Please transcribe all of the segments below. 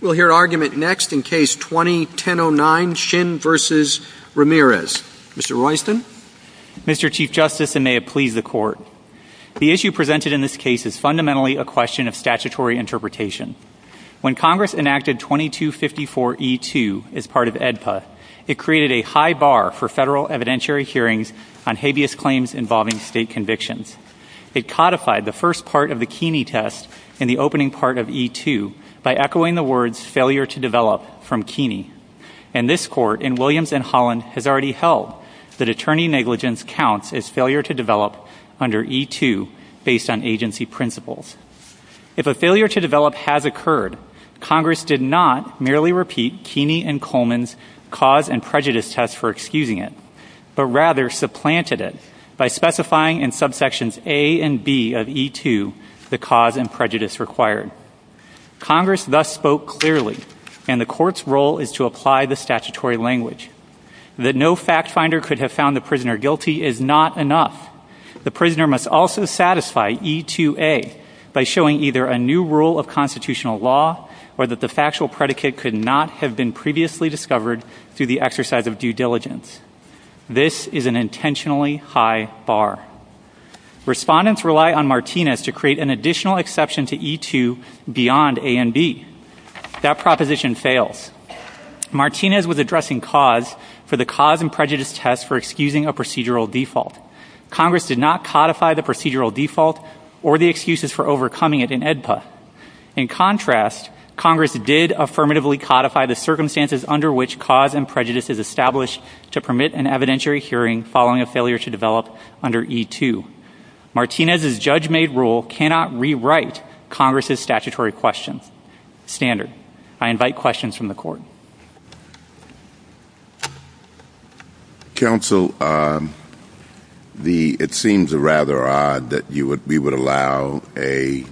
We'll hear argument next in case 2109, Shinn v. Ramirez. Mr. Royston. Mr. Chief Justice, and may it please the Court, the issue presented in this case is fundamentally a question of statutory interpretation. When Congress enacted 2254E2 as part of AEDPA, it created a high bar for federal evidentiary hearings on habeas claims involving state convictions. It codified the first part of the Keeney test in the opening part of E2 by echoing the words failure to develop from Keeney. And this Court in Williams v. Holland has already held that attorney negligence counts as failure to develop under E2 based on agency principles. If a failure to develop has occurred, Congress did not merely repeat Keeney and Coleman's cause and prejudice test for excusing it, but rather supplanted it by specifying in subsections A and B of E2 the cause and prejudice required. Congress thus spoke clearly, and the Court's role is to apply the statutory language. That no fact finder could have found the prisoner guilty is not enough. The prisoner must also satisfy E2A by showing either a new rule of constitutional law or that the factual predicate could not have been previously discovered through the exercise of due diligence. This is an intentionally high bar. Respondents rely on Martinez to create an additional exception to E2 beyond A and B. That proposition fails. Martinez was addressing cause for the cause and prejudice test for excusing a procedural default. Congress did not codify the procedural default or the excuses for overcoming it in AEDPA. In contrast, Congress did affirmatively codify the circumstances under which cause and prejudice is established to permit an evidentiary hearing following a failure to develop under E2. Martinez's judge-made rule cannot rewrite Congress's statutory questions. Standard. I invite questions from the Court. Counsel, it seems rather odd that we would allow a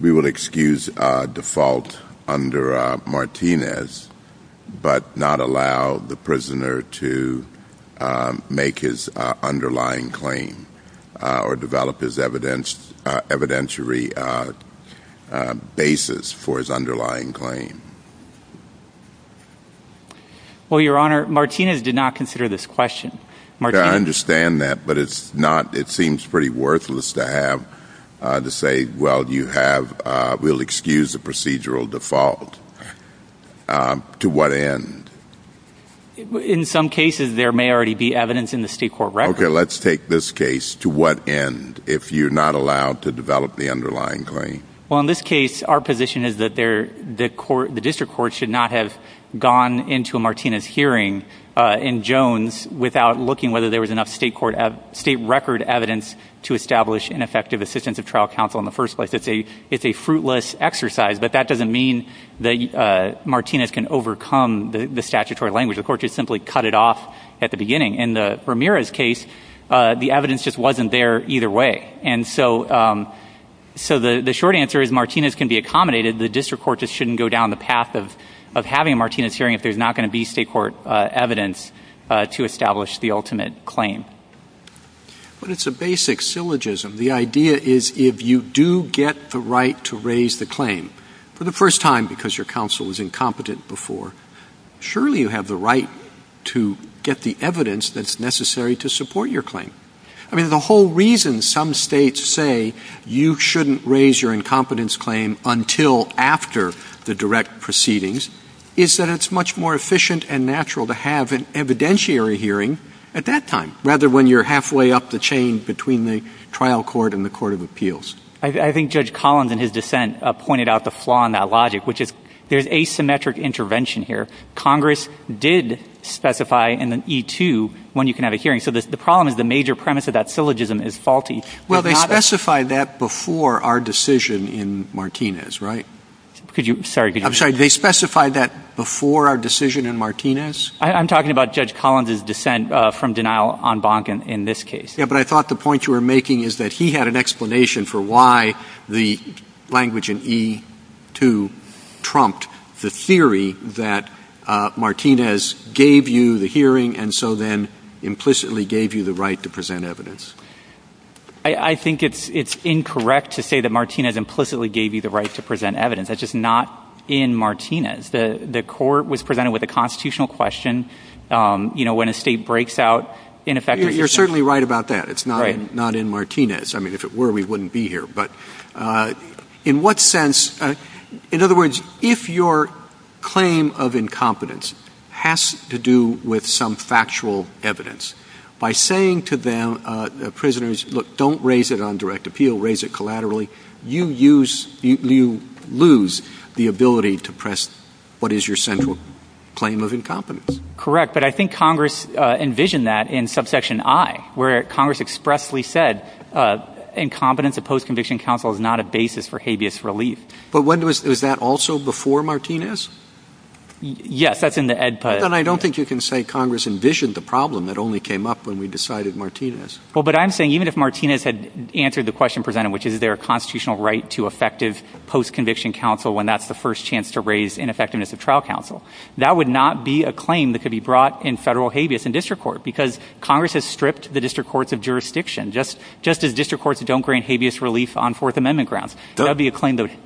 we would excuse a default under Martinez, but not allow the prisoner to make his underlying claim or develop his evidentiary basis for his underlying claim. Well, Your Honor, Martinez did not consider this question. I understand that, but it seems pretty worthless to have to say, well, we'll excuse a procedural default. To what end? In some cases, there may already be evidence in the state court record. Okay, let's take this case. To what end, if you're not allowed to develop the underlying claim? Well, in this case, our position is that the district court should not have gone into a Martinez hearing in Jones without looking whether there was enough state record evidence to establish an effective assistance of trial counsel in the first place. It's a fruitless exercise, but that doesn't mean that Martinez can overcome the statutory language. The court should simply cut it off at the beginning. In the Ramirez case, the evidence just wasn't there either way. And so the short answer is Martinez can be accommodated. The district court just shouldn't go down the path of having a Martinez hearing if there's not going to be state court evidence to establish the ultimate claim. But it's a basic syllogism. The idea is if you do get the right to raise the claim for the first time because your counsel was incompetent before, surely you have the right to get the evidence that's necessary to support your claim. I mean, the whole reason some states say you shouldn't raise your incompetence claim until after the direct proceedings is that it's much more efficient and natural to have an evidentiary hearing at that time rather than when you're halfway up the chain between the trial court and the court of appeals. I think Judge Collins in his dissent pointed out the flaw in that logic, which is there's asymmetric intervention here. Congress did specify in the E-2 when you can have a hearing. So the problem is the major premise of that syllogism is faulty. Well, they specified that before our decision in Martinez, right? Could you – sorry. I'm sorry. They specified that before our decision in Martinez? I'm talking about Judge Collins' dissent from denial en banc in this case. Yeah, but I thought the point you were making is that he had an explanation for why the language in E-2 trumped the theory that Martinez gave you the hearing and so then implicitly gave you the right to present evidence. I think it's incorrect to say that Martinez implicitly gave you the right to present evidence. That's just not in Martinez. The court was presented with a constitutional question. You know, when a state breaks out, in effect, You're certainly right about that. Right. It's not in Martinez. I mean, if it were, we wouldn't be here. But in what sense – in other words, if your claim of incompetence has to do with some factual evidence, by saying to the prisoners, look, don't raise it on direct appeal, raise it collaterally, you use – you lose the ability to press what is your central claim of incompetence. Correct. But I think Congress envisioned that in subsection I, where Congress expressly said incompetence of post-conviction counsel is not a basis for habeas relief. But was that also before Martinez? Yes. That's in the EDPA. Then I don't think you can say Congress envisioned the problem that only came up when we decided Martinez. Well, but I'm saying even if Martinez had answered the question presented, which is there a constitutional right to effective post-conviction counsel when that's the first chance to raise ineffectiveness of trial counsel, that would not be a claim that could be brought in federal habeas in district court because Congress has stripped the district courts of jurisdiction. Just as district courts don't grant habeas relief on Fourth Amendment grounds. That would be a claim that would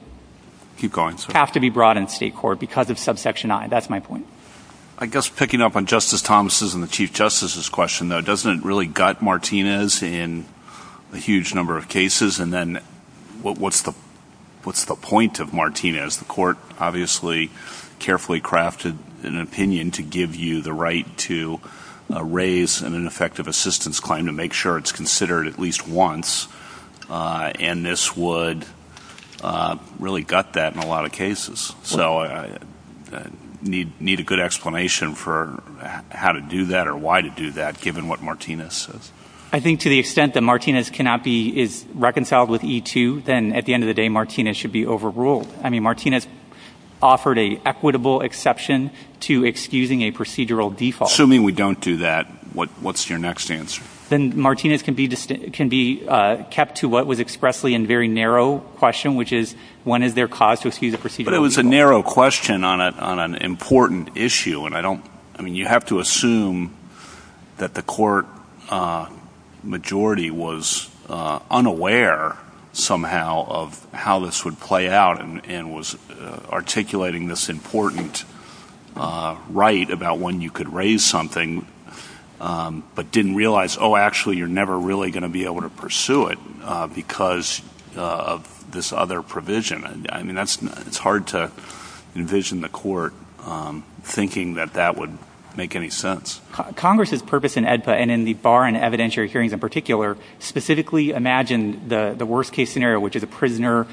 have to be brought in state court because of subsection I. That's my point. I guess picking up on Justice Thomas' and the Chief Justice's question, though, doesn't it really gut Martinez in a huge number of cases? And then what's the point of Martinez? As the court obviously carefully crafted an opinion to give you the right to raise an ineffective assistance claim to make sure it's considered at least once, and this would really gut that in a lot of cases. So I need a good explanation for how to do that or why to do that given what Martinez says. I think to the extent that Martinez cannot be reconciled with E2, then at the end of the day Martinez should be overruled. I mean, Martinez offered an equitable exception to excusing a procedural default. Assuming we don't do that, what's your next answer? Then Martinez can be kept to what was expressly a very narrow question, which is when is there cause to excuse a procedural default? But it was a narrow question on an important issue. I mean, you have to assume that the court majority was unaware somehow of how this would play out. And was articulating this important right about when you could raise something but didn't realize, oh, actually you're never really going to be able to pursue it because of this other provision. I mean, it's hard to envision the court thinking that that would make any sense. Congress's purpose in AEDPA and in the bar and evidentiary hearings in particular specifically imagined the worst case scenario, which is a prisoner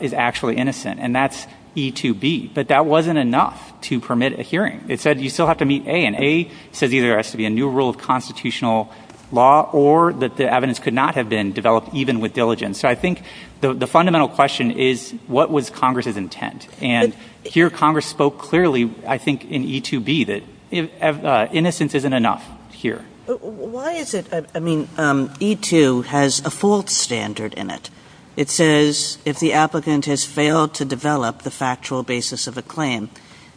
is actually innocent. And that's E2B. But that wasn't enough to permit a hearing. It said you still have to meet A. And A says either there has to be a new rule of constitutional law or that the evidence could not have been developed even with diligence. So I think the fundamental question is what was Congress's intent? And here Congress spoke clearly, I think, in E2B that innocence isn't enough here. Why is it? I mean, E2 has a fault standard in it. It says if the applicant has failed to develop the factual basis of a claim.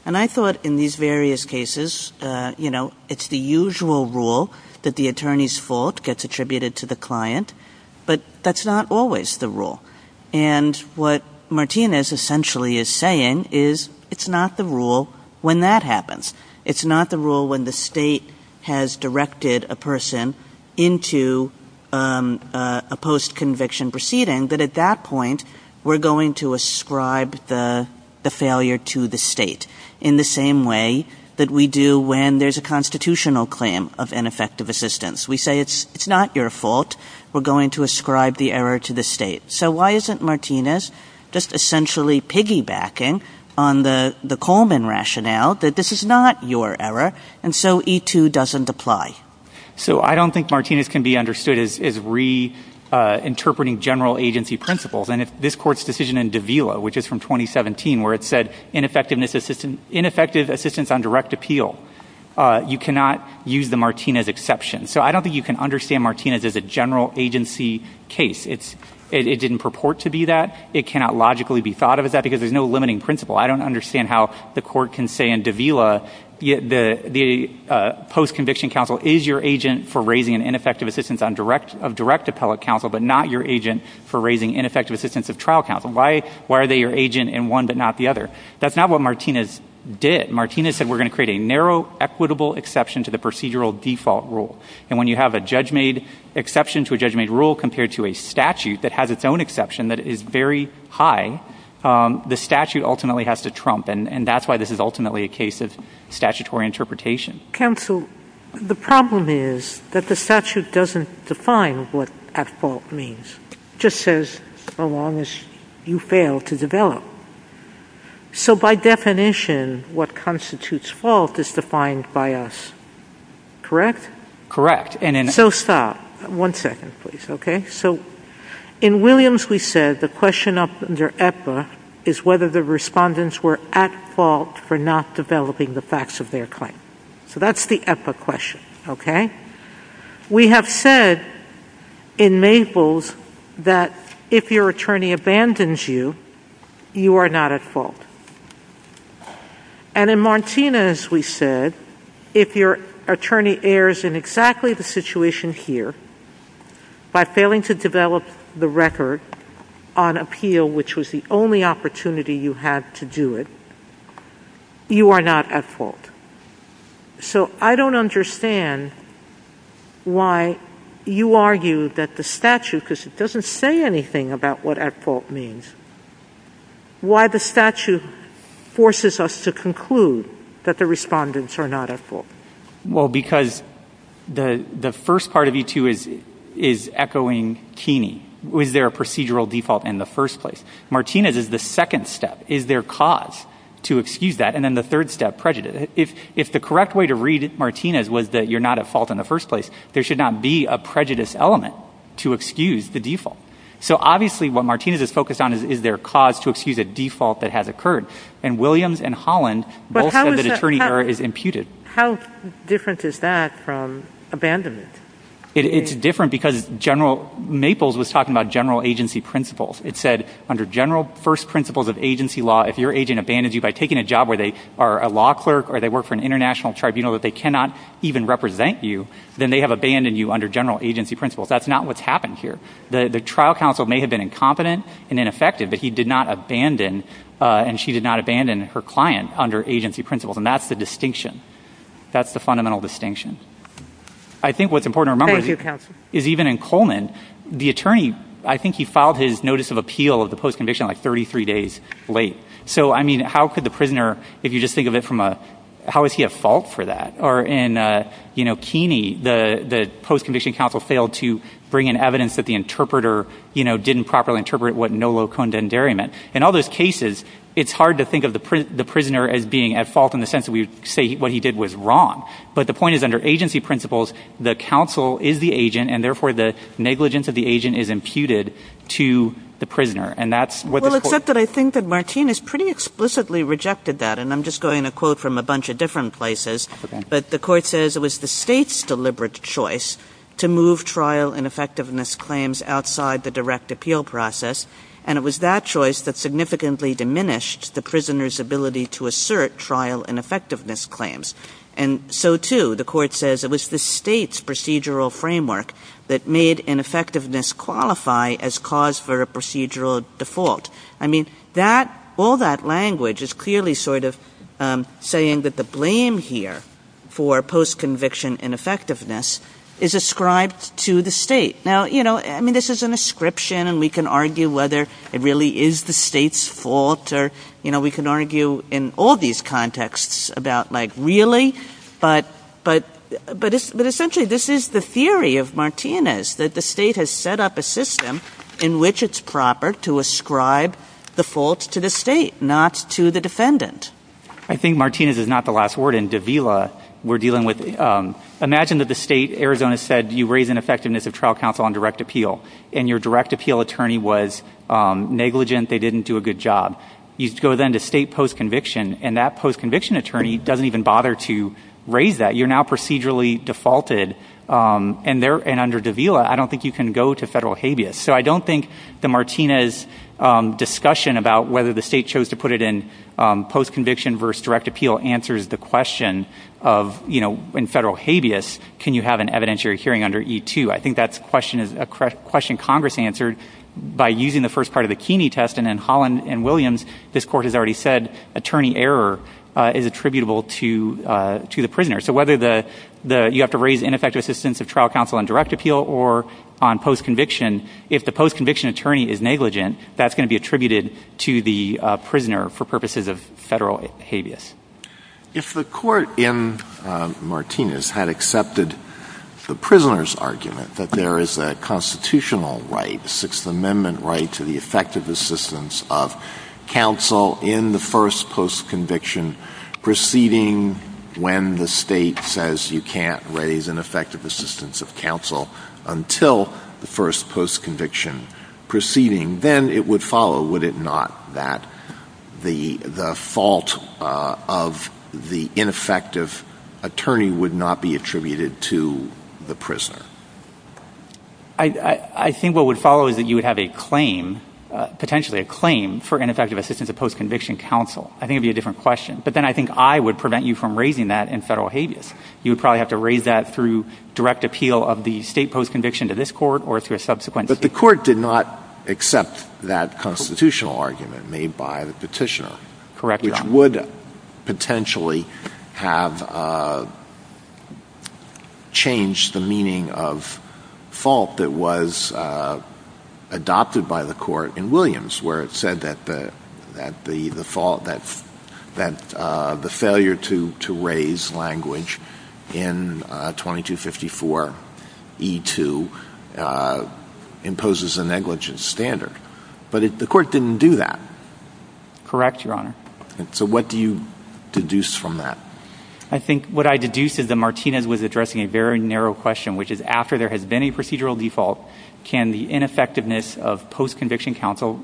And I thought in these various cases, you know, it's the usual rule that the attorney's fault gets attributed to the client. But that's not always the rule. And what Martinez essentially is saying is it's not the rule when that happens. It's not the rule when the state has directed a person into a post-conviction proceeding that at that point we're going to ascribe the failure to the state in the same way that we do when there's a constitutional claim of ineffective assistance. We say it's not your fault. We're going to ascribe the error to the state. So why isn't Martinez just essentially piggybacking on the Coleman rationale that this is not your error and so E2 doesn't apply? So I don't think Martinez can be understood as reinterpreting general agency principles. And if this court's decision in Davila, which is from 2017, where it said ineffective assistance on direct appeal, you cannot use the Martinez exception. So I don't think you can understand Martinez as a general agency case. It didn't purport to be that. It cannot logically be thought of as that because there's no limiting principle. I don't understand how the court can say in Davila the post-conviction counsel is your agent for raising an ineffective assistance of direct appellate counsel but not your agent for raising ineffective assistance of trial counsel. Why are they your agent in one but not the other? That's not what Martinez did. Martinez said we're going to create a narrow equitable exception to the procedural default rule. And when you have a judge-made exception to a judge-made rule compared to a statute that has its own exception that is very high, the statute ultimately has to trump, and that's why this is ultimately a case of statutory interpretation. Counsel, the problem is that the statute doesn't define what at fault means. It just says so long as you fail to develop. So by definition, what constitutes fault is defined by us, correct? Correct. So stop. One second, please. Okay? So in Williams we said the question under EPA is whether the respondents were at fault for not developing the facts of their claim. So that's the EPA question, okay? We have said in Maples that if your attorney abandons you, you are not at fault. And in Martinez we said if your attorney errs in exactly the situation here by failing to develop the record on appeal, which was the only opportunity you had to do it, you are not at fault. So I don't understand why you argue that the statute, because it doesn't say anything about what at fault means, why the statute forces us to conclude that the respondents are not at fault. Well, because the first part of E2 is echoing Keeney. Was there a procedural default in the first place? Martinez is the second step. Is there cause to excuse that? And then the third step, prejudice. If the correct way to read Martinez was that you're not at fault in the first place, there should not be a prejudice element to excuse the default. So obviously what Martinez is focused on is there cause to excuse a default that has occurred. And Williams and Holland both said that attorney error is imputed. How different is that from abandonment? It's different because General Maples was talking about general agency principles. It said under general first principles of agency law, if your agent abandons you by taking a job where they are a law clerk or they work for an international tribunal that they cannot even represent you, then they have abandoned you under general agency principles. That's not what's happened here. The trial counsel may have been incompetent and ineffective, but he did not abandon and she did not abandon her client under agency principles. And that's the distinction. That's the fundamental distinction. I think what's important to remember is even in Coleman, the attorney, I think he filed his notice of appeal of the post conviction like 33 days late. So, I mean, how could the prisoner, if you just think of it from a, how is he at fault for that? Or in Keeney, the post conviction counsel failed to bring in evidence that the interpreter, you know, didn't properly interpret what nolo condendere meant. In all those cases, it's hard to think of the prisoner as being at fault in the sense that we would say what he did was wrong. But the point is under agency principles, the counsel is the agent, and therefore the negligence of the agent is imputed to the prisoner. And that's what the court. Well, except that I think that Martine has pretty explicitly rejected that. And I'm just going to quote from a bunch of different places. But the court says it was the state's deliberate choice to move trial ineffectiveness claims outside the direct appeal process. And it was that choice that significantly diminished the prisoner's ability to assert trial ineffectiveness claims. And so, too, the court says it was the state's procedural framework that made ineffectiveness qualify as cause for a procedural default. I mean, all that language is clearly sort of saying that the blame here for post conviction ineffectiveness is ascribed to the state. Now, you know, I mean, this is an ascription, and we can argue whether it really is the state's fault. Or, you know, we can argue in all these contexts about, like, really? But essentially, this is the theory of Martine's, that the state has set up a system in which it's proper to ascribe the fault to the state, not to the defendant. I think Martine's is not the last word. In Davila, we're dealing with imagine that the state, Arizona, said you raise ineffectiveness of trial counsel on direct appeal. And your direct appeal attorney was negligent. They didn't do a good job. You go then to state post conviction, and that post conviction attorney doesn't even bother to raise that. You're now procedurally defaulted. And under Davila, I don't think you can go to federal habeas. So I don't think that Martine's discussion about whether the state chose to put it in post conviction versus direct appeal answers the question of, you know, in federal habeas, can you have an evidentiary hearing under E2? I think that's a question Congress answered by using the first part of the Keeney test. And in Holland and Williams, this Court has already said attorney error is attributable to the prisoner. So whether you have to raise ineffective assistance of trial counsel on direct appeal or on post conviction, if the post conviction attorney is negligent, that's going to be attributed to the prisoner for purposes of federal habeas. If the court in Martinez had accepted the prisoner's argument that there is a constitutional right, a Sixth Amendment right, to the effective assistance of counsel in the first post conviction proceeding when the state says you can't raise an effective assistance of counsel until the first post conviction proceeding, then it would follow, would it not, that the fault of the prisoner would be in the first post conviction proceeding? Or the fault of the ineffective attorney would not be attributed to the prisoner? I think what would follow is that you would have a claim, potentially a claim, for ineffective assistance of post conviction counsel. I think it would be a different question. But then I think I would prevent you from raising that in federal habeas. You would probably have to raise that through direct appeal of the state post conviction to this Court or through a subsequent state. But the Court did not accept that constitutional argument made by the petitioner. Correct, Your Honor. Which would potentially have changed the meaning of fault that was adopted by the Court in Williams where it said that the fault, that the failure to raise language in 2254E2 imposes a negligence standard. But the Court didn't do that. Correct, Your Honor. So what do you deduce from that? I think what I deduce is that Martinez was addressing a very narrow question, which is after there has been a procedural default, can the ineffectiveness of post conviction counsel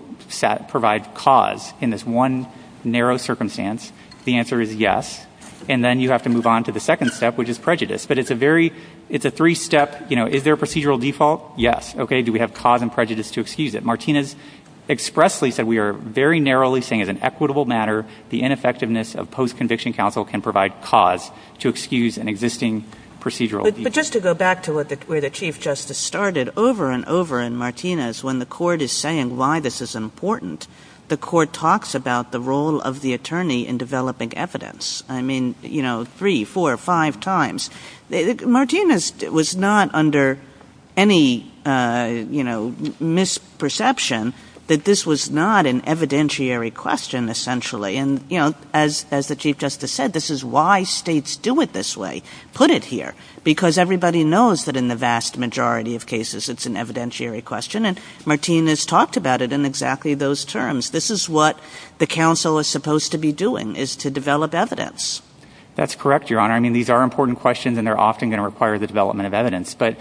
provide cause in this one narrow circumstance? The answer is yes. And then you have to move on to the second step, which is prejudice. But it's a very, it's a three step, you know, is there a procedural default? Yes. Okay. Do we have cause and prejudice to excuse it? Martinez expressly said we are very narrowly saying as an equitable matter, the ineffectiveness of post conviction counsel can provide cause to excuse an existing procedural default. But just to go back to where the Chief Justice started, over and over in Martinez, when the Court is saying why this is important, the Court talks about the role of the attorney in developing evidence. I mean, you know, three, four, five times. Martinez was not under any, you know, misperception that this was not an evidentiary question, essentially. And, you know, as the Chief Justice said, this is why states do it this way, put it here, because everybody knows that in the vast majority of cases it's an evidentiary question. And Martinez talked about it in exactly those terms. This is what the counsel is supposed to be doing, is to develop evidence. That's correct, Your Honor. I mean, these are important questions, and they're often going to require the development of evidence. But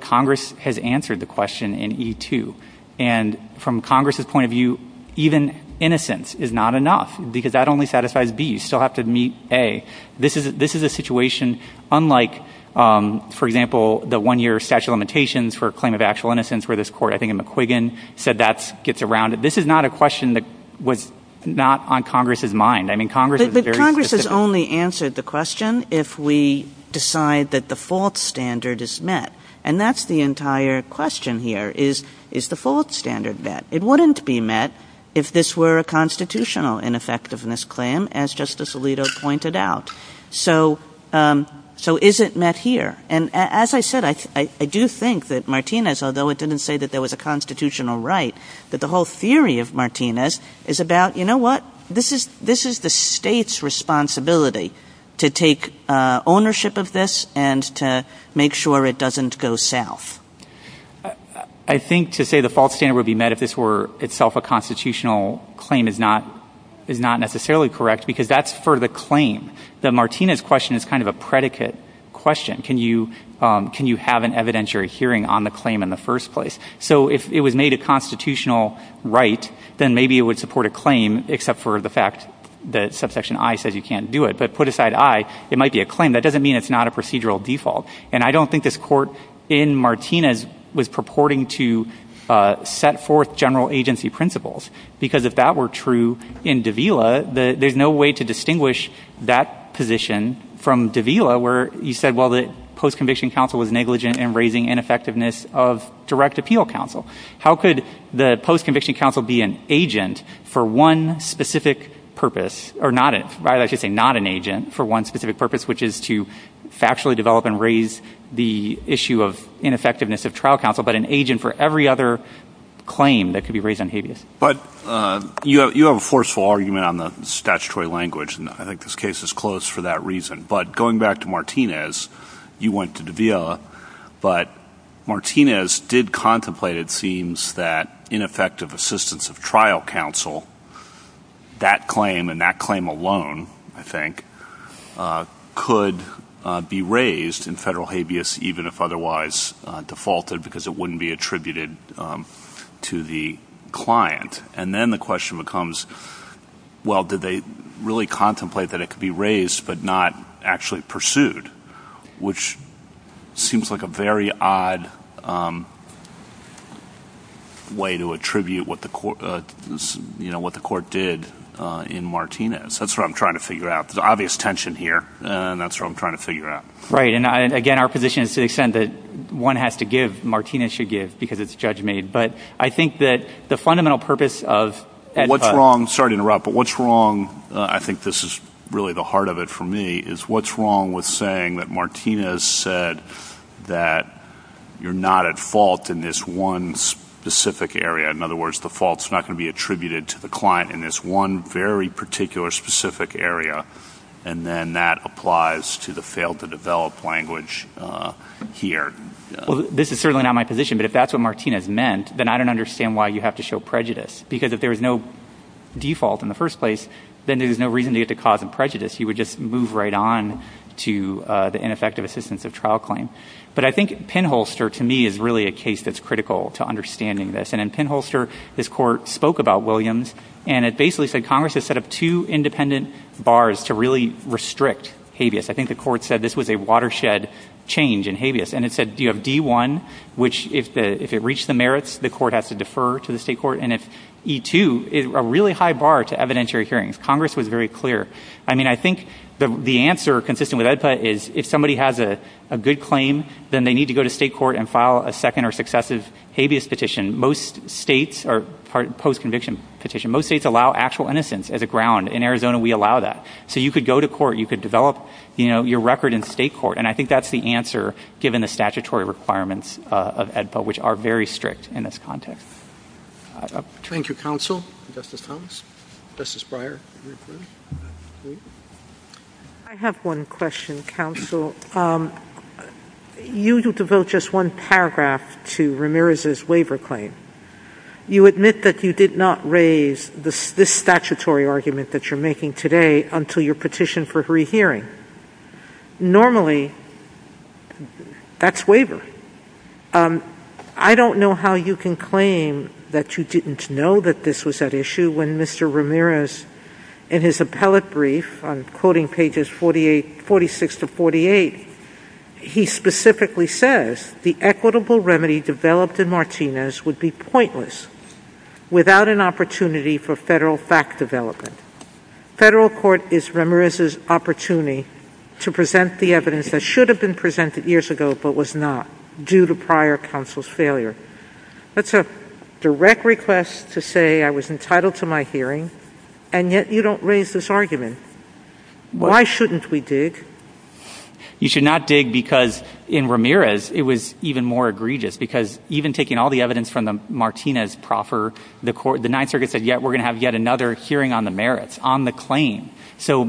Congress has answered the question in E2. And from Congress's point of view, even innocence is not enough, because that only satisfies B. You still have to meet A. This is a situation unlike, for example, the one year statute of limitations for a claim of actual innocence where this Court, I think in McQuiggan, said that gets around it. This is not a question that was not on Congress's mind. I mean, Congress was very specific. But Congress has only answered the question if we decide that the fault standard is met. And that's the entire question here is, is the fault standard met? It wouldn't be met if this were a constitutional ineffectiveness claim, as Justice Alito pointed out. So is it met here? And as I said, I do think that Martinez, although it didn't say that there was a constitutional right, that the whole theory of Martinez is about, you know what? This is the State's responsibility to take ownership of this and to make sure it doesn't go south. I think to say the fault standard would be met if this were itself a constitutional claim is not necessarily correct, because that's for the claim. The Martinez question is kind of a predicate question. Can you have an evidentiary hearing on the claim in the first place? So if it was made a constitutional right, then maybe it would support a claim, except for the fact that subsection I says you can't do it. But put aside I, it might be a claim. That doesn't mean it's not a procedural default. And I don't think this Court in Martinez was purporting to set forth general agency principles, because if that were true in Davila, there's no way to distinguish that position from Davila, where you said, well, the post-conviction counsel was negligent in raising ineffectiveness of direct appeal counsel. How could the post-conviction counsel be an agent for one specific purpose, or rather I should say not an agent for one specific purpose, which is to factually develop and raise the issue of ineffectiveness of trial counsel, but an agent for every other claim that could be raised on habeas? But you have a forceful argument on the statutory language, and I think this case is closed for that reason. But going back to Martinez, you went to Davila, but Martinez did contemplate, it seems, that ineffective assistance of trial counsel, that claim and that claim alone, I think, could be raised in federal habeas, even if otherwise defaulted, because it wouldn't be attributed to the client. And then the question becomes, well, did they really contemplate that it could be raised but not actually pursued, which seems like a very odd way to attribute what the Court did in Martinez. That's what I'm trying to figure out. There's obvious tension here, and that's what I'm trying to figure out. Right. And, again, our position is to the extent that one has to give, Martinez should give, because it's judge-made. But I think that the fundamental purpose of Ed Putt – What's wrong – sorry to interrupt, but what's wrong – I think this is really the heart of it for me – is what's wrong with saying that Martinez said that you're not at fault in this one specific area. In other words, the fault's not going to be attributed to the client in this one very particular specific area. And then that applies to the fail-to-develop language here. Well, this is certainly not my position, but if that's what Martinez meant, then I don't understand why you have to show prejudice. Because if there was no default in the first place, then there's no reason to get to cause a prejudice. You would just move right on to the ineffective assistance of trial claim. But I think Pinholster, to me, is really a case that's critical to understanding this. And in Pinholster, this court spoke about Williams, and it basically said Congress has set up two independent bars to really restrict habeas. I think the court said this was a watershed change in habeas. And it said you have D1, which if it reached the merits, the court has to defer to the state court. And if E2, a really high bar to evidentiary hearings. Congress was very clear. I mean, I think the answer, consistent with Ed Putt, is if somebody has a good claim, then they need to go to state court and file a second or successive habeas petition. Most states are post-conviction petition. Most states allow actual innocence as a ground. In Arizona, we allow that. So you could go to court. You could develop your record in state court. And I think that's the answer, given the statutory requirements of Ed Putt, which are very strict in this context. Thank you, counsel. Justice Thomas. Justice Breyer. I have one question, counsel. You devote just one paragraph to Ramirez's waiver claim. You admit that you did not raise this statutory argument that you're making today until your petition for rehearing. Normally, that's waiver. I don't know how you can claim that you didn't know that this was at issue when Mr. Ramirez, in his appellate brief on quoting pages 46 to 48, he specifically says, the equitable remedy developed in Martinez would be pointless without an opportunity for federal fact development. Federal court is Ramirez's opportunity to present the evidence that should have been presented years ago, but was not due to prior counsel's failure. That's a direct request to say I was entitled to my hearing, and yet you don't raise this argument. Why shouldn't we dig? You should not dig because in Ramirez, it was even more egregious because even taking all the evidence from the Martinez proffer, the Ninth Circuit said we're going to have yet another hearing on the merits, on the claim. So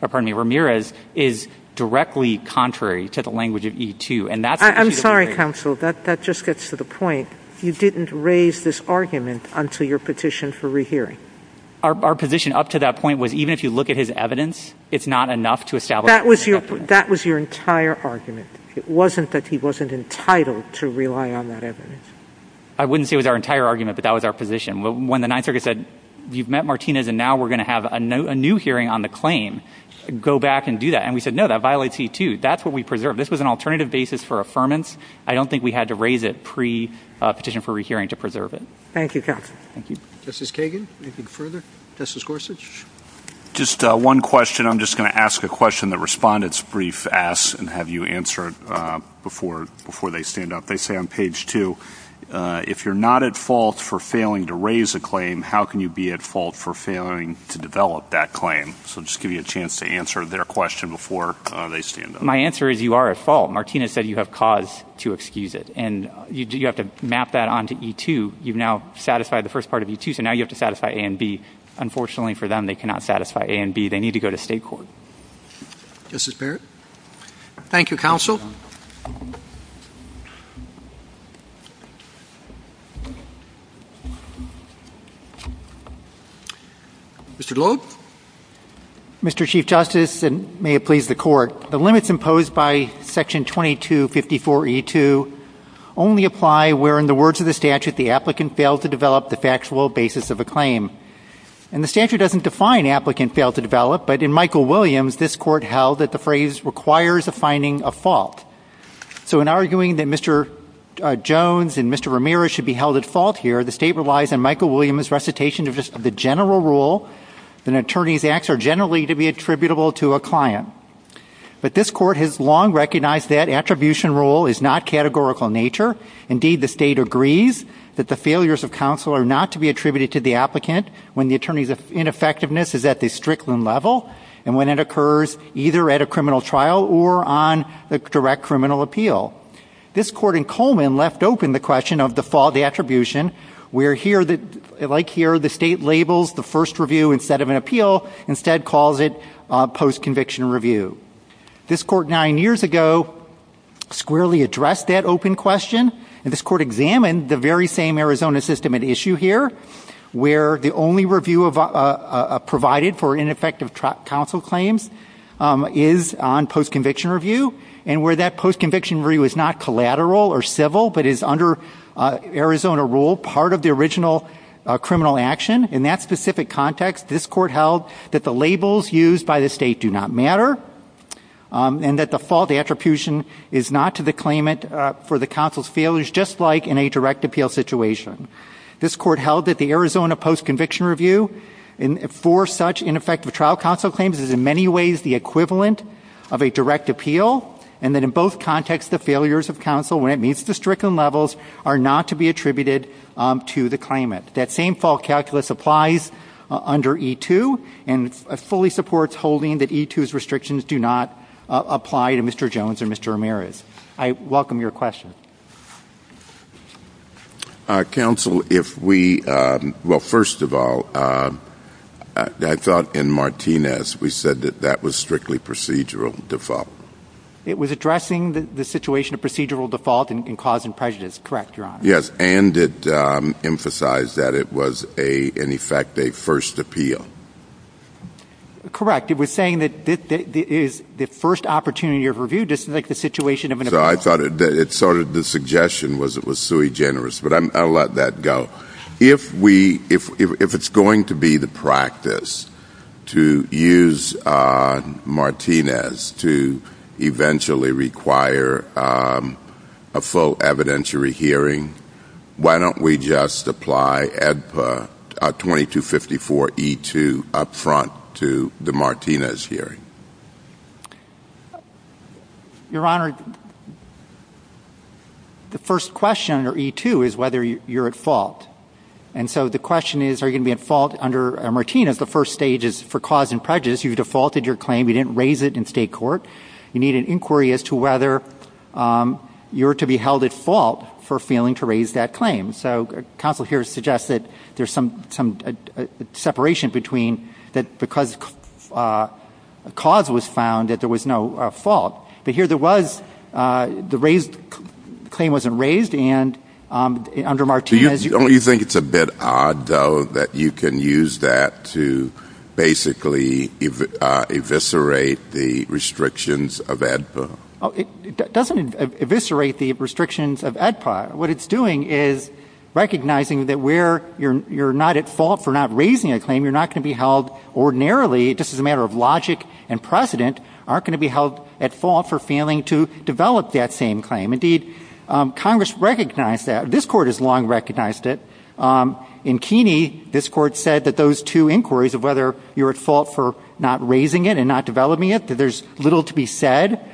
Ramirez is directly contrary to the language of E2. I'm sorry, counsel. That just gets to the point. You didn't raise this argument until your petition for rehearing. Our position up to that point was even if you look at his evidence, it's not enough to establish. That was your entire argument. It wasn't that he wasn't entitled to rely on that evidence. I wouldn't say it was our entire argument, but that was our position. When the Ninth Circuit said you've met Martinez, and now we're going to have a new hearing on the claim, go back and do that. And we said no, that violates E2. That's what we preserved. This was an alternative basis for affirmance. I don't think we had to raise it pre-petition for rehearing to preserve it. Thank you, counsel. Thank you. Justice Kagan, anything further? Justice Gorsuch? Just one question. I'm just going to ask a question that respondents brief ask and have you answer it before they stand up. They say on page 2, if you're not at fault for failing to raise a claim, how can you be at fault for failing to develop that claim? So I'll just give you a chance to answer their question before they stand up. My answer is you are at fault. Martinez said you have cause to excuse it. And you have to map that onto E2. You've now satisfied the first part of E2, so now you have to satisfy A and B. Unfortunately for them, they cannot satisfy A and B. They need to go to state court. Justice Barrett? Thank you, counsel. Thank you, counsel. Mr. Globe? Mr. Chief Justice, and may it please the Court, the limits imposed by Section 2254E2 only apply where, in the words of the statute, the applicant failed to develop the factual basis of a claim. And the statute doesn't define applicant failed to develop, but in Michael Williams, this court held that the phrase requires a finding of fault. So in arguing that Mr. Jones and Mr. Ramirez should be held at fault here, the state relies on Michael Williams' recitation of the general rule that an attorney's acts are generally to be attributable to a client. But this court has long recognized that attribution rule is not categorical in nature. Indeed, the state agrees that the failures of counsel are not to be attributed to the applicant when the attorney's ineffectiveness is at the strickland level and when it occurs either at a criminal trial or on a direct criminal appeal. This court in Coleman left open the question of the attribution where, like here, the state labels the first review instead of an appeal, instead calls it post-conviction review. This court nine years ago squarely addressed that open question, and this court examined the very same Arizona system at issue here, where the only review provided for ineffective counsel claims is on post-conviction review, and where that post-conviction review is not collateral or civil but is, under Arizona rule, part of the original criminal action. In that specific context, this court held that the labels used by the state do not matter and that the fault attribution is not to the claimant for the counsel's failures, just like in a direct appeal situation. This court held that the Arizona post-conviction review for such ineffective trial counsel claims is in many ways the equivalent of a direct appeal and that in both contexts the failures of counsel when it meets the strickland levels are not to be attributed to the claimant. That same fault calculus applies under E-2 and fully supports holding that E-2's restrictions do not apply to Mr. Jones or Mr. Ramirez. I welcome your question. Counsel, if we – well, first of all, I thought in Martinez we said that that was strictly procedural default. It was addressing the situation of procedural default and cause and prejudice. Correct, Your Honor. Yes, and it emphasized that it was, in effect, a first appeal. Correct. It was saying that it is the first opportunity of review, just like the situation of an appeal. So I thought it sort of – the suggestion was it was sui generis, but I'll let that go. If we – if it's going to be the practice to use Martinez to eventually require a full evidentiary hearing, why don't we just apply 2254 E-2 up front to the Martinez hearing? Your Honor, the first question under E-2 is whether you're at fault. And so the question is, are you going to be at fault under Martinez? The first stage is for cause and prejudice. You've defaulted your claim. You didn't raise it in state court. You need an inquiry as to whether you're to be held at fault for failing to raise that claim. So counsel here suggests that there's some separation between that because cause was found, that there was no fault. But here there was – the claim wasn't raised, and under Martinez – Don't you think it's a bit odd, though, that you can use that to basically eviscerate the restrictions of AEDPA? It doesn't eviscerate the restrictions of AEDPA. What it's doing is recognizing that where you're not at fault for not raising a claim, you're not going to be held ordinarily, just as a matter of logic and precedent, aren't going to be held at fault for failing to develop that same claim. Indeed, Congress recognized that. This Court has long recognized it. In Keeney, this Court said that those two inquiries of whether you're at fault for not raising it and not developing it, that there's little to be said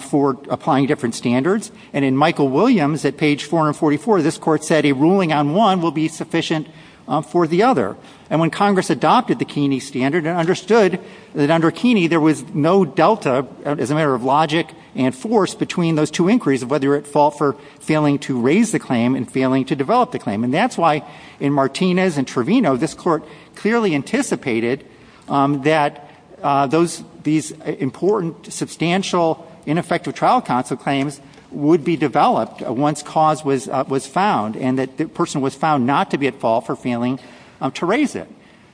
for applying different standards. And in Michael Williams, at page 444, this Court said a ruling on one will be sufficient for the other. And when Congress adopted the Keeney standard and understood that under Keeney there was no delta, as a matter of logic and force, between those two inquiries of whether you're at fault for failing to raise the claim and failing to develop the claim. And that's why in Martinez and Trevino, this Court clearly anticipated that these important, substantial, ineffective trial counsel claims would be developed once cause was found and that the person was found not to be at fault for failing to raise it.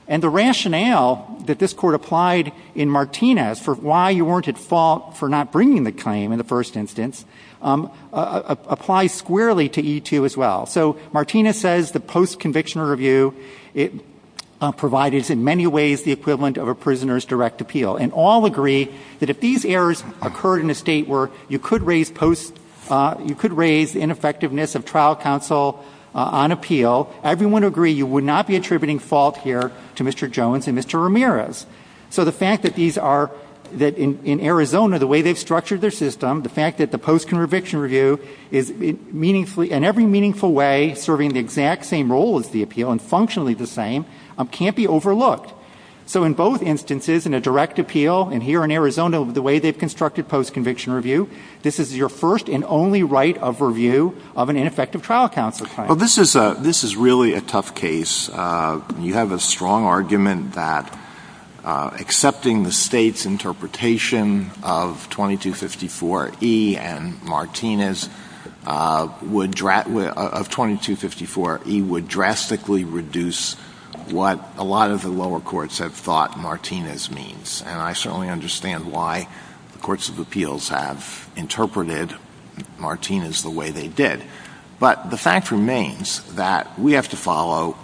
And the rationale that this Court applied in Martinez for why you weren't at fault for not bringing the claim, in the first instance, applies squarely to E-2 as well. So Martinez says the post-conviction review provided, in many ways, the equivalent of a prisoner's direct appeal. And all agree that if these errors occurred in a state where you could raise ineffectiveness of trial counsel on appeal, everyone would agree you would not be attributing fault here to Mr. Jones and Mr. Ramirez. So the fact that these are, in Arizona, the way they've structured their system, the fact that the post-conviction review is in every meaningful way serving the exact same role as the appeal and functionally the same, can't be overlooked. So in both instances, in a direct appeal, and here in Arizona, the way they've constructed post-conviction review, this is your first and only right of review of an ineffective trial counsel claim. Well, this is a — this is really a tough case. You have a strong argument that accepting the State's interpretation of 2254E and Martinez would — of 2254E would drastically reduce what a lot of the lower courts have thought Martinez means. And I certainly understand why the courts of appeals have interpreted Martinez the way they did. But the fact remains that we have to follow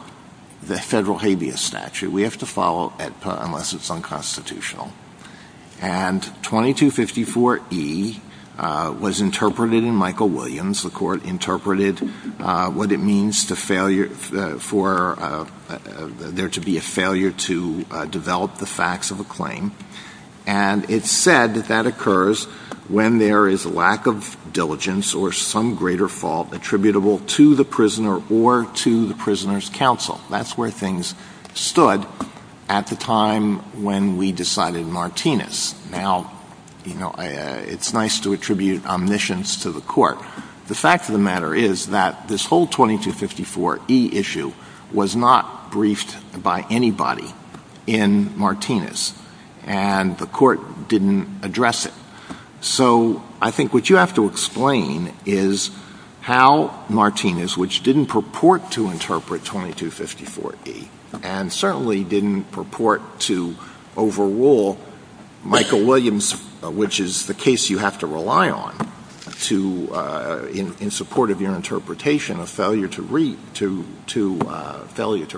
the federal habeas statute. We have to follow it unless it's unconstitutional. And 2254E was interpreted in Michael Williams. The Court interpreted what it means to failure — for there to be a failure to develop the facts of a claim. And it said that that occurs when there is lack of diligence or some greater fault attributable to the prisoner or to the prisoner's counsel. That's where things stood at the time when we decided Martinez. Now, you know, it's nice to attribute omniscience to the Court. The fact of the matter is that this whole 2254E issue was not briefed by anybody in Martinez. And the Court didn't address it. So I think what you have to explain is how Martinez, which didn't purport to interpret 2254E and certainly didn't purport to overrule Michael Williams, which is the case you have to rely on, in support of your interpretation of failure to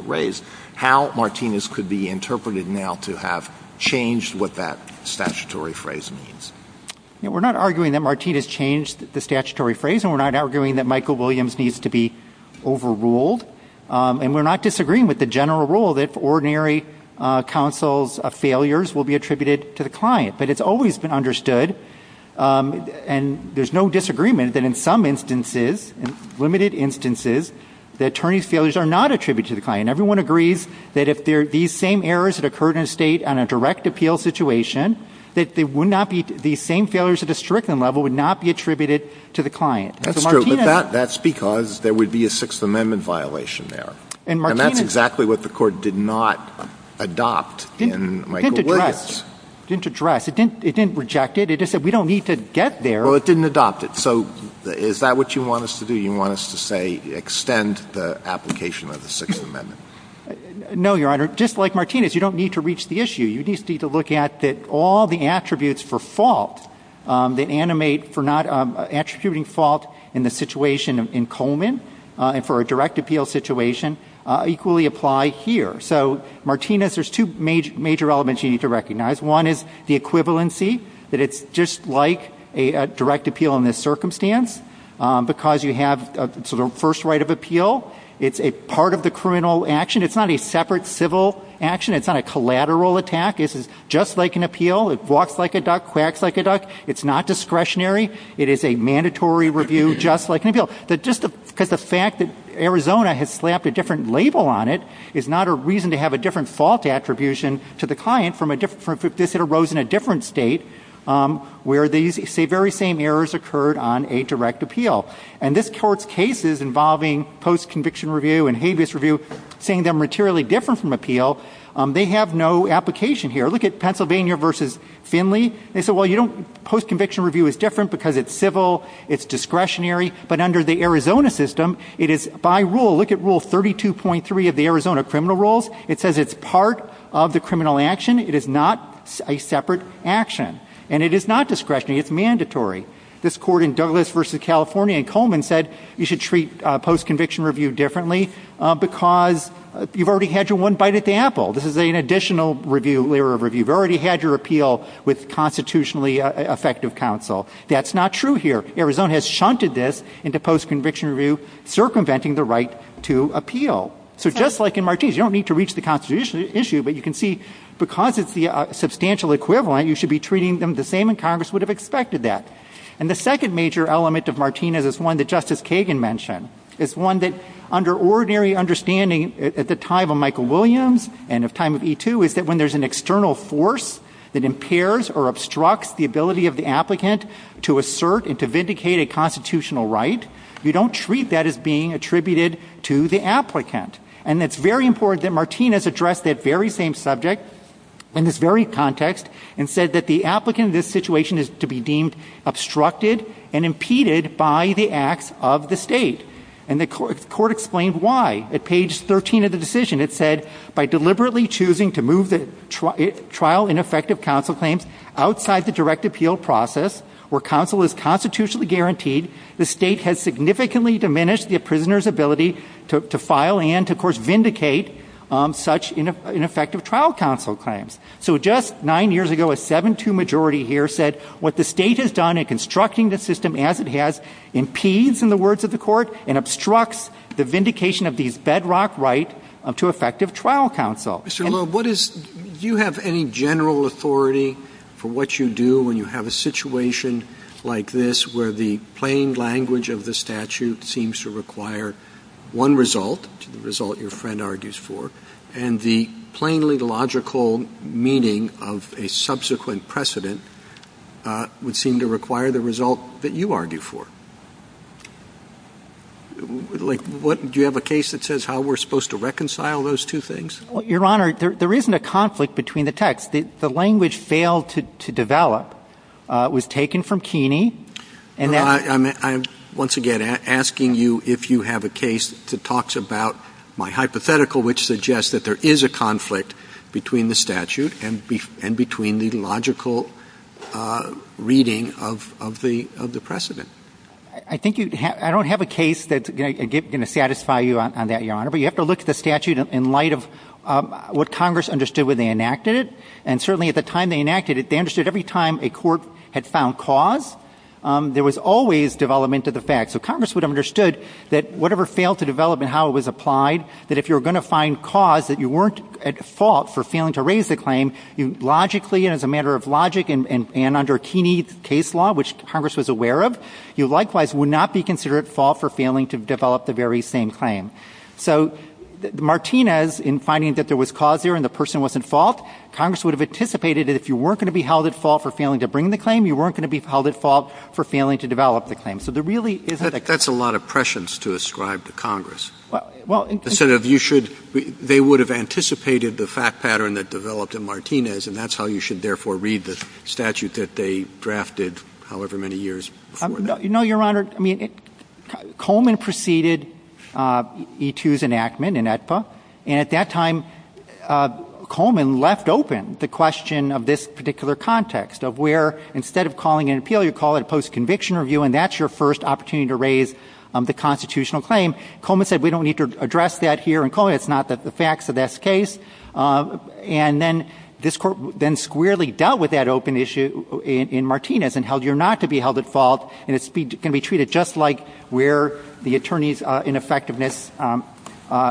raise, how Martinez could be interpreted now to have changed what that statutory phrase means. We're not arguing that Martinez changed the statutory phrase. And we're not arguing that Michael Williams needs to be overruled. And we're not disagreeing with the general rule that ordinary counsel's failures will be attributed to the client. But it's always been understood, and there's no disagreement, that in some instances, in limited instances, the attorney's failures are not attributed to the client. Everyone agrees that if these same errors had occurred in a state on a direct appeal situation, that they would not be the same failures at a strickland level would not be attributed to the client. That's true. But that's because there would be a Sixth Amendment violation there. And that's exactly what the Court did not adopt in Michael Williams. It didn't address. It didn't address. It didn't reject it. It just said, we don't need to get there. Well, it didn't adopt it. So is that what you want us to do? You want us to say extend the application of the Sixth Amendment? No, Your Honor. Just like Martinez, you don't need to reach the issue. You just need to look at that all the attributes for fault that animate for not attributing fault in the situation in Coleman, and for a direct appeal situation, equally apply here. So, Martinez, there's two major elements you need to recognize. One is the equivalency, that it's just like a direct appeal in this circumstance, because you have the first right of appeal. It's a part of the criminal action. It's not a separate civil action. It's not a collateral attack. It's just like an appeal. It walks like a duck, quacks like a duck. It's not discretionary. It is a mandatory review, just like an appeal. Because the fact that Arizona has slapped a different label on it is not a reason to have a different fault attribution to the client. This arose in a different state where these very same errors occurred on a direct appeal. And this Court's cases involving post-conviction review and habeas review, saying they're materially different from appeal, they have no application here. Look at Pennsylvania v. Finley. They said, well, post-conviction review is different because it's civil, it's discretionary. But under the Arizona system, it is, by rule, look at Rule 32.3 of the Arizona criminal rules. It says it's part of the criminal action. It is not a separate action. And it is not discretionary. It's mandatory. This Court in Douglas v. California in Coleman said you should treat post-conviction review differently because you've already had your one bite at the apple. This is an additional layer of review. You've already had your appeal with constitutionally effective counsel. That's not true here. Arizona has shunted this into post-conviction review, circumventing the right to appeal. So just like in Martinez, you don't need to reach the constitutional issue, but you can see because it's the substantial equivalent, you should be treating them the same, and Congress would have expected that. And the second major element of Martinez is one that Justice Kagan mentioned. It's one that, under ordinary understanding at the time of Michael Williams and of time of E2, is that when there's an external force that impairs or obstructs the ability of the applicant to assert and to vindicate a constitutional right, you don't treat that as being attributed to the applicant. And it's very important that Martinez addressed that very same subject in this very context and said that the applicant in this situation is to be deemed obstructed and impeded by the acts of the state. And the Court explained why. At page 13 of the decision, it said, by deliberately choosing to move the trial ineffective counsel claims outside the direct appeal process, where counsel is constitutionally guaranteed, the state has significantly diminished the prisoner's ability to file and, of course, vindicate such ineffective trial counsel claims. So just nine years ago, a 7-2 majority here said what the state has done in constructing the system as it has impedes, in the words of the Court, and obstructs the vindication of these bedrock rights to effective trial counsel. Roberts. Mr. Loeb, do you have any general authority for what you do when you have a situation like this where the plain language of the statute seems to require one result, the result your friend argues for, and the plainly logical meaning of a subsequent precedent would seem to require the result that you argue for? Do you have a case that says how we're supposed to reconcile those two things? Your Honor, there isn't a conflict between the texts. The language failed to develop. It was taken from Keeney. I'm, once again, asking you if you have a case that talks about my hypothetical, which suggests that there is a conflict between the statute and between the logical reading of the precedent. I don't have a case that's going to satisfy you on that, Your Honor. But you have to look at the statute in light of what Congress understood when they enacted it. And certainly at the time they enacted it, they understood every time a court had found cause, there was always development of the facts. So Congress would have understood that whatever failed to develop and how it was applied, that if you were going to find cause that you weren't at fault for failing to raise the claim, logically and as a matter of logic and under Keeney case law, which Congress was aware of, you likewise would not be considered at fault for failing to develop the very same claim. So Martinez, in finding that there was cause there and the person wasn't at fault, Congress would have anticipated that if you weren't going to be held at fault for failing to bring the claim, you weren't going to be held at fault for failing to develop the claim. So there really isn't — That's a lot of prescience to ascribe to Congress. Well — But, Senator, you should — they would have anticipated the fact pattern that developed in Martinez, and that's how you should therefore read the statute that they drafted however many years before that. No, Your Honor. I mean, Coleman preceded E2's enactment in AEDPA. And at that time, Coleman left open the question of this particular context, of where instead of calling an appeal, you call it a post-conviction review, and that's your first opportunity to raise the constitutional claim. Coleman said we don't need to address that here in Coleman. It's not the facts of this case. And then this Court then squarely dealt with that open issue in Martinez and held you're not to be held at fault, and it's going to be treated just like where the attorney's ineffectiveness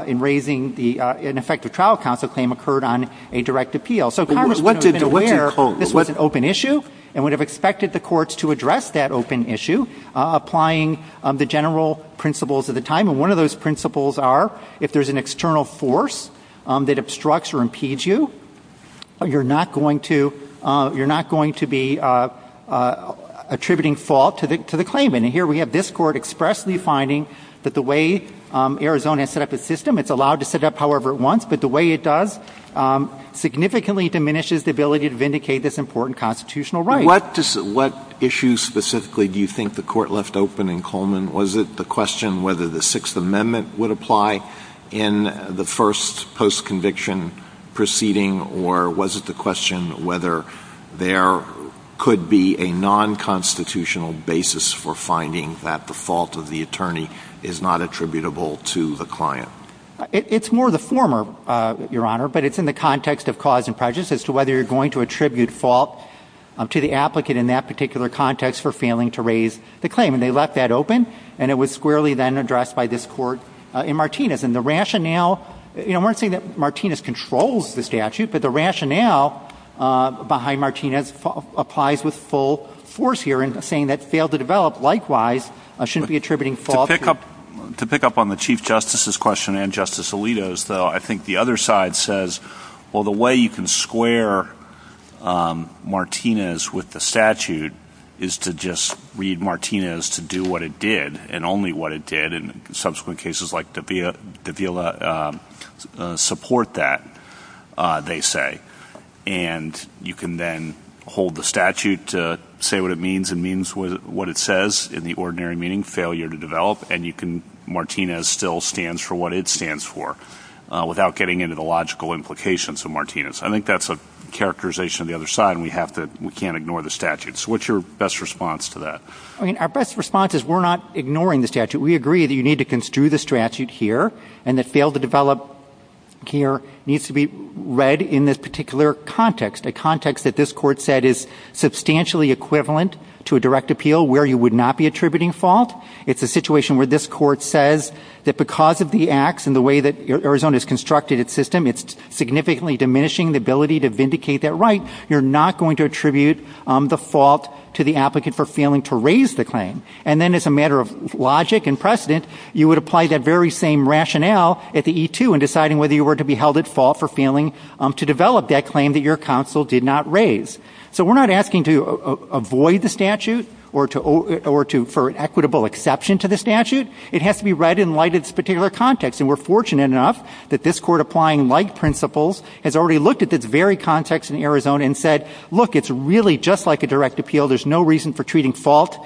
in raising the ineffective trial counsel claim occurred on a direct appeal. So Congress would have been aware — What did Coleman —— this was an open issue and would have expected the courts to address that open issue, applying the general principles of the time. And one of those principles are if there's an external force that obstructs or impedes you, you're not going to — you're not going to be attributing fault to the claimant. And here we have this Court expressly finding that the way Arizona set up its system, it's allowed to set up however it wants, but the way it does significantly diminishes the ability to vindicate this important constitutional right. What issue specifically do you think the Court left open in Coleman? Was it the question whether the Sixth Amendment would apply in the first post-conviction proceeding, or was it the question whether there could be a nonconstitutional basis for finding that the fault of the attorney is not attributable to the client? It's more the former, Your Honor, but it's in the context of cause and prejudice as to whether you're going to attribute fault to the applicant in that particular context for failing to raise the claim. And they left that open, and it was squarely then addressed by this Court in Martinez. And the rationale — you know, I'm not saying that Martinez controls the statute, but the rationale behind Martinez applies with full force here in saying that failed to develop, likewise, shouldn't be attributing fault to — To pick up on the Chief Justice's question and Justice Alito's, though, I think the other side says, well, the way you can square Martinez with the statute is to just read Martinez to do what it did, and only what it did, and subsequent cases like Davila support that, they say. And you can then hold the statute to say what it means, and means what it says in the ordinary meaning, failure to develop, and you can — Martinez still stands for what it stands for without getting into the logical implications of Martinez. I think that's a characterization of the other side, and we have to — we can't ignore the statute. So what's your best response to that? I mean, our best response is we're not ignoring the statute. We agree that you need to construe the statute here, and that failed to develop here needs to be read in this particular context, a context that this Court said is substantially equivalent to a direct appeal where you would not be attributing fault. It's a situation where this Court says that because of the acts and the way that Arizona has constructed its system, it's significantly diminishing the ability to vindicate that right. You're not going to attribute the fault to the applicant for failing to raise the claim. And then as a matter of logic and precedent, you would apply that very same rationale at the E-2 in deciding whether you were to be held at fault for failing to develop that claim that your counsel did not raise. So we're not asking to avoid the statute or to — or to — for an equitable exception to the statute. It has to be read in light of this particular context, and we're fortunate enough that this Court, applying like principles, has already looked at this very context in Arizona and said, look, it's really just like a direct appeal. There's no reason for treating fault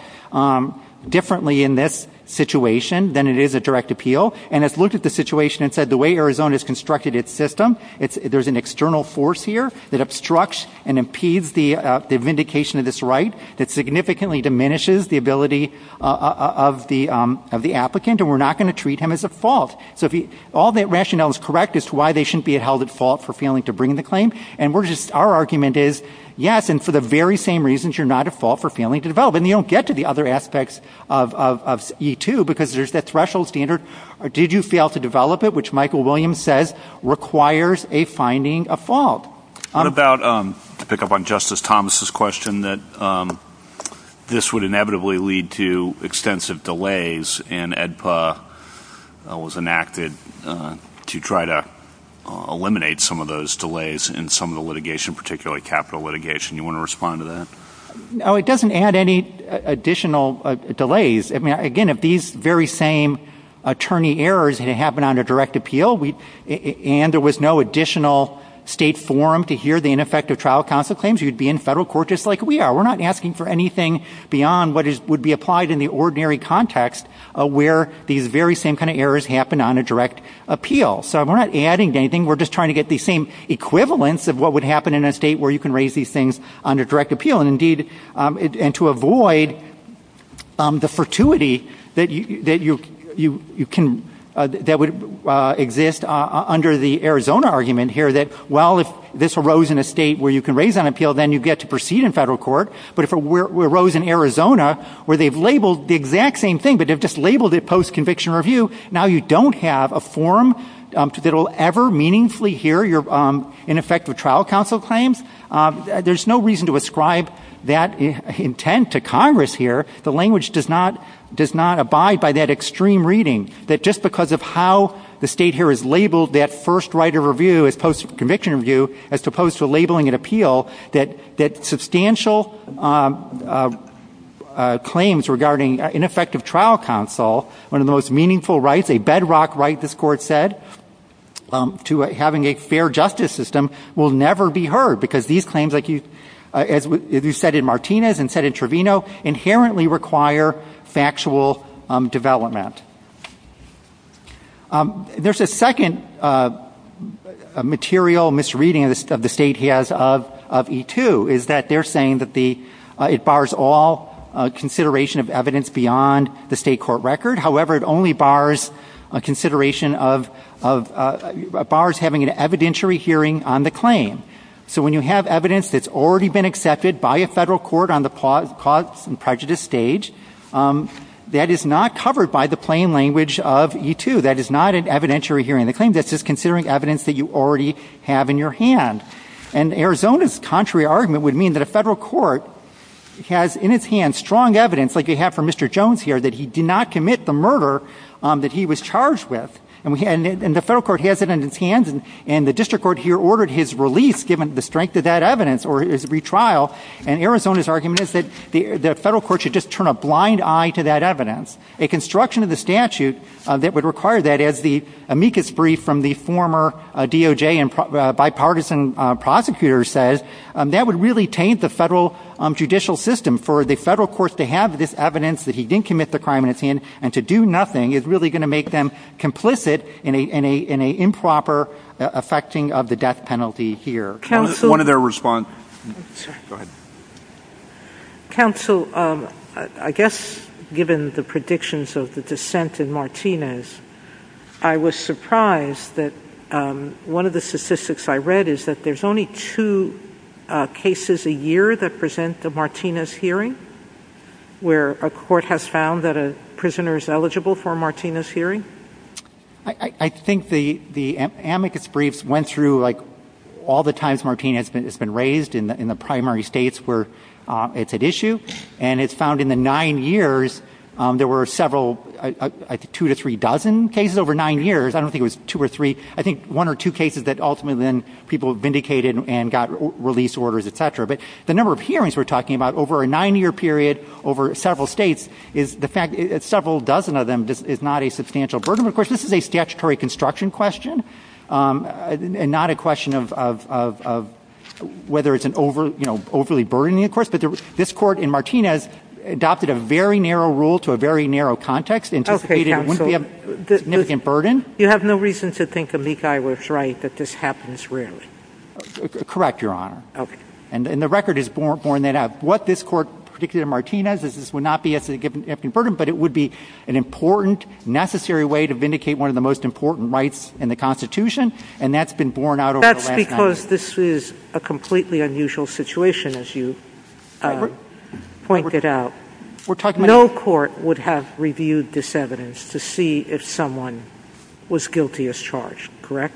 differently in this situation than it is a direct appeal, and has looked at the situation and said the way Arizona has constructed its system, there's an external force here that obstructs and impedes the vindication of this right that significantly diminishes the ability of the applicant, and we're not going to treat him as a fault. So if he — all that rationale is correct as to why they shouldn't be held at fault for failing to bring the claim, and we're just — our argument is, yes, and for the very same reasons, you're not at fault for failing to develop. And you don't get to the other aspects of E-2 because there's that threshold standard. Did you fail to develop it, which Michael Williams says requires a finding of fault. What about, to pick up on Justice Thomas' question, that this would inevitably lead to extensive delays, and AEDPA was enacted to try to eliminate some of those delays in some of the litigation, particularly capital litigation. Do you want to respond to that? No, it doesn't add any additional delays. I mean, again, if these very same attorney errors had happened on a direct appeal, and there was no additional state forum to hear the ineffective trial counsel claims, you'd be in federal court just like we are. We're not asking for anything beyond what would be applied in the ordinary context where these very same kind of errors happen on a direct appeal. So we're not adding to anything. We're just trying to get the same equivalence of what would happen in a state where you can raise these things on a direct appeal, and to avoid the fortuity that would exist under the Arizona argument here that, well, if this arose in a state where you can raise on appeal, then you get to proceed in federal court. But if it arose in Arizona where they've labeled the exact same thing, but they've just labeled it post-conviction review, now you don't have a forum that will ever meaningfully hear your ineffective trial counsel claims. There's no reason to ascribe that intent to Congress here. The language does not abide by that extreme reading, that just because of how the state here has labeled that first right of review as post-conviction review as opposed to labeling it appeal, that substantial claims regarding ineffective trial counsel, one of the most meaningful rights, a bedrock right, this Court said, to having a fair justice system, will never be heard. Because these claims, as you said in Martinez and said in Trevino, inherently require factual development. There's a second material misreading of the state he has of E-2, is that they're saying that it bars all consideration of evidence beyond the state court record. However, it only bars having an evidentiary hearing on the claim. So when you have evidence that's already been accepted by a federal court on the cause and prejudice stage, that is not covered by the plain language of E-2. That is not an evidentiary hearing of the claim. That's just considering evidence that you already have in your hand. And Arizona's contrary argument would mean that a federal court has in its hands strong evidence, like you have for Mr. Jones here, that he did not commit the murder that he was charged with. And the federal court has it in its hands, and the district court here ordered his release, given the strength of that evidence, or his retrial. And Arizona's argument is that the federal court should just turn a blind eye to that evidence. A construction of the statute that would require that, as the amicus brief from the former DOJ bipartisan prosecutor says, that would really taint the federal judicial system. For the federal courts to have this evidence that he didn't commit the crime in his hand, and to do nothing is really going to make them complicit in an improper effecting of the death penalty here. One other response. Go ahead. Counsel, I guess given the predictions of the dissent in Martinez, I was surprised that one of the statistics I read is that there's only two cases a year that present a Martinez hearing, where a court has found that a prisoner is eligible for a Martinez hearing? I think the amicus briefs went through all the times Martinez has been raised in the primary states where it's at issue, and it's found in the nine years there were several, two to three dozen cases over nine years. I don't think it was two or three. I think one or two cases that ultimately then people vindicated and got release orders, et cetera. But the number of hearings we're talking about over a nine-year period, over several states, is the fact that several dozen of them is not a substantial burden. Of course, this is a statutory construction question and not a question of whether it's overly burdening, of course. But this court in Martinez adopted a very narrow rule to a very narrow context, anticipated it wouldn't be a significant burden. You have no reason to think amicus briefs write that this happens rarely? Correct, Your Honor. Okay. And the record is borne that out. What this court predicted in Martinez is this would not be a significant burden, but it would be an important, necessary way to vindicate one of the most important rights in the Constitution, and that's been borne out over the last nine years. That's because this is a completely unusual situation, as you pointed out. No court would have reviewed this evidence to see if someone was guilty as charged, correct?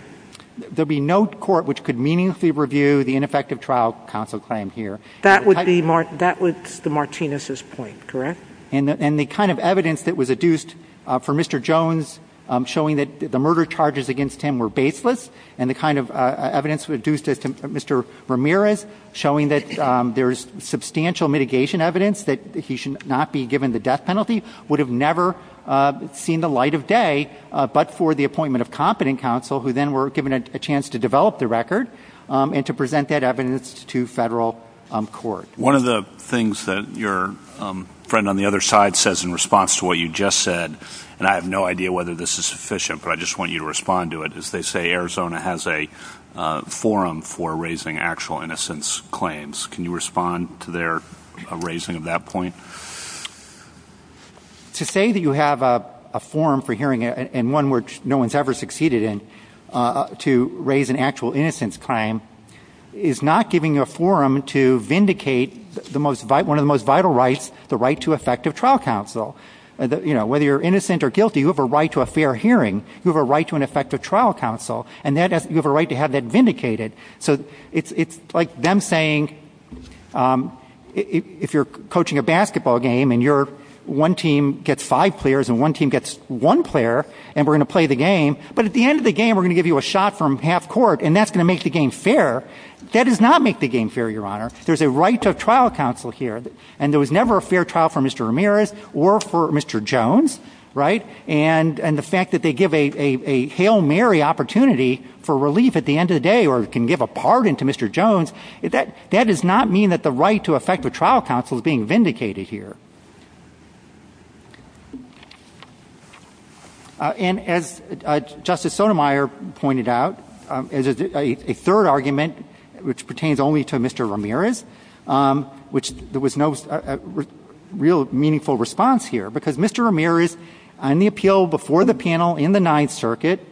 There would be no court which could meaningfully review the ineffective trial counsel claim here. That would be the Martinez's point, correct? And the kind of evidence that was adduced for Mr. Jones showing that the murder charges against him were baseless and the kind of evidence adduced as to Mr. Ramirez showing that there is substantial mitigation evidence that he should not be given the death penalty would have never seen the light of day, but for the appointment of competent counsel who then were given a chance to develop the record and to present that evidence to federal court. One of the things that your friend on the other side says in response to what you just said, and I have no idea whether this is sufficient, but I just want you to respond to it, is they say Arizona has a forum for raising actual innocence claims. Can you respond to their raising of that point? To say that you have a forum for hearing, and one which no one has ever succeeded in, to raise an actual innocence claim is not giving you a forum to vindicate one of the most vital rights, the right to effective trial counsel. Whether you're innocent or guilty, you have a right to a fair hearing. You have a right to an effective trial counsel, and you have a right to have that vindicated. So it's like them saying if you're coaching a basketball game and one team gets five players and one team gets one player and we're going to play the game, but at the end of the game we're going to give you a shot from half court, and that's going to make the game fair. That does not make the game fair, Your Honor. There's a right to trial counsel here, and there was never a fair trial for Mr. Ramirez or for Mr. Jones, and the fact that they give a Hail Mary opportunity for relief at the end of the day or can give a pardon to Mr. Jones, that does not mean that the right to effective trial counsel is being vindicated here. And as Justice Sotomayor pointed out, a third argument which pertains only to Mr. Ramirez, which there was no real meaningful response here, because Mr. Ramirez on the appeal before the panel in the Ninth Circuit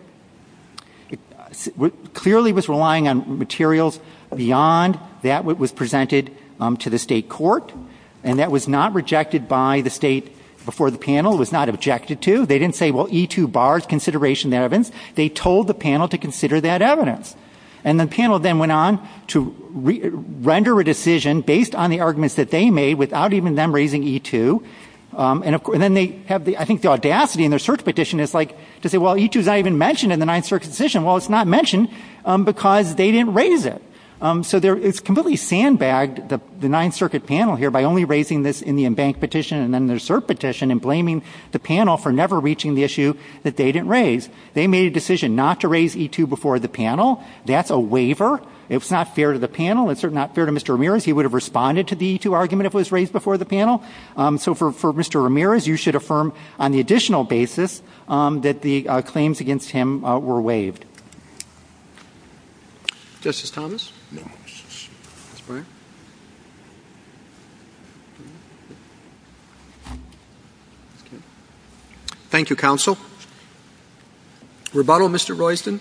clearly was relying on materials beyond that which was presented to the state court, and that was not rejected by the state before the panel. It was not objected to. They didn't say, well, E2 bars consideration of evidence. They told the panel to consider that evidence, and the panel then went on to render a decision based on the arguments that they made without even them raising E2, and then they have, I think, the audacity in their cert petition to say, well, E2 is not even mentioned in the Ninth Circuit decision. Well, it's not mentioned because they didn't raise it. So it's completely sandbagged, the Ninth Circuit panel here, by only raising this in the embank petition and then their cert petition and blaming the panel for never reaching the issue that they didn't raise. They made a decision not to raise E2 before the panel. That's a waiver. It's not fair to the panel. It's certainly not fair to Mr. Ramirez. He would have responded to the E2 argument if it was raised before the panel. So for Mr. Ramirez, you should affirm on the additional basis that the claims against him were waived. Justice Thomas? Thank you, counsel. Rebuttal, Mr. Royston.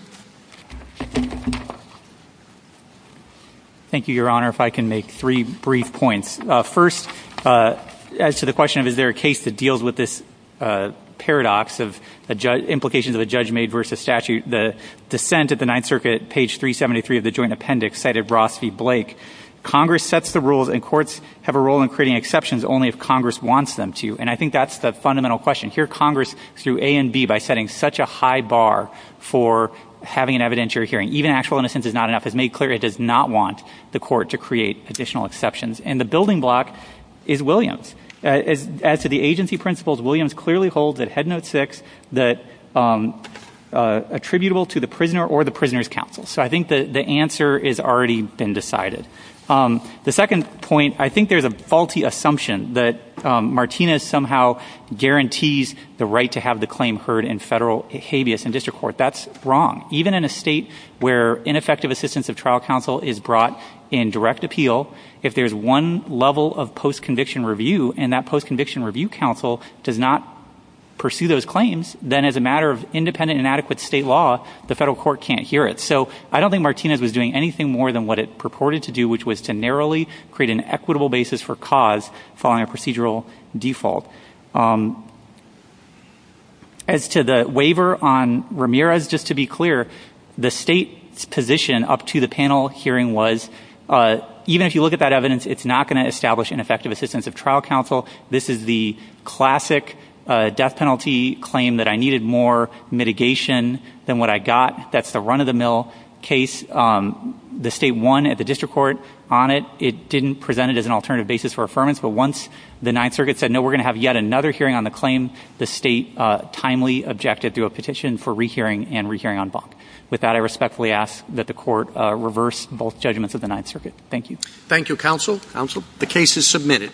Thank you, Your Honor. If I can make three brief points. First, as to the question of is there a case that deals with this paradox of implications of a judge made versus statute, the dissent at the Ninth Circuit, page 373 of the joint appendix cited Ross v. Blake. Congress sets the rules and courts have a role in creating exceptions only if Congress wants them to. And I think that's the fundamental question. Here Congress, through A and B, by setting such a high bar for having an evidentiary hearing, even actual innocence is not enough, has made clear it does not want the court to create additional exceptions. And the building block is Williams. As to the agency principles, Williams clearly holds at Head Note 6 that attributable to the prisoner or the prisoner's counsel. So I think the answer has already been decided. The second point, I think there's a faulty assumption that Martinez somehow guarantees the right to have the claim heard in federal habeas in district court. That's wrong. Even in a state where ineffective assistance of trial counsel is brought in direct appeal, if there's one level of post-conviction review and that post-conviction review counsel does not pursue those claims, then as a matter of independent and adequate state law, the federal court can't hear it. So I don't think Martinez was doing anything more than what it purported to do, which was to narrowly create an equitable basis for cause following a procedural default. As to the waiver on Ramirez, just to be clear, the state's position up to the panel hearing was, even if you look at that evidence, it's not going to establish ineffective assistance of trial counsel. This is the classic death penalty claim that I needed more mitigation than what I got. That's the run-of-the-mill case. The state won at the district court on it. It didn't present it as an alternative basis for affirmance. But once the Ninth Circuit said, no, we're going to have yet another hearing on the claim, the state timely objected to a petition for rehearing and rehearing on bond. With that, I respectfully ask that the court reverse both judgments of the Ninth Circuit. Thank you. Thank you, counsel. The case is submitted.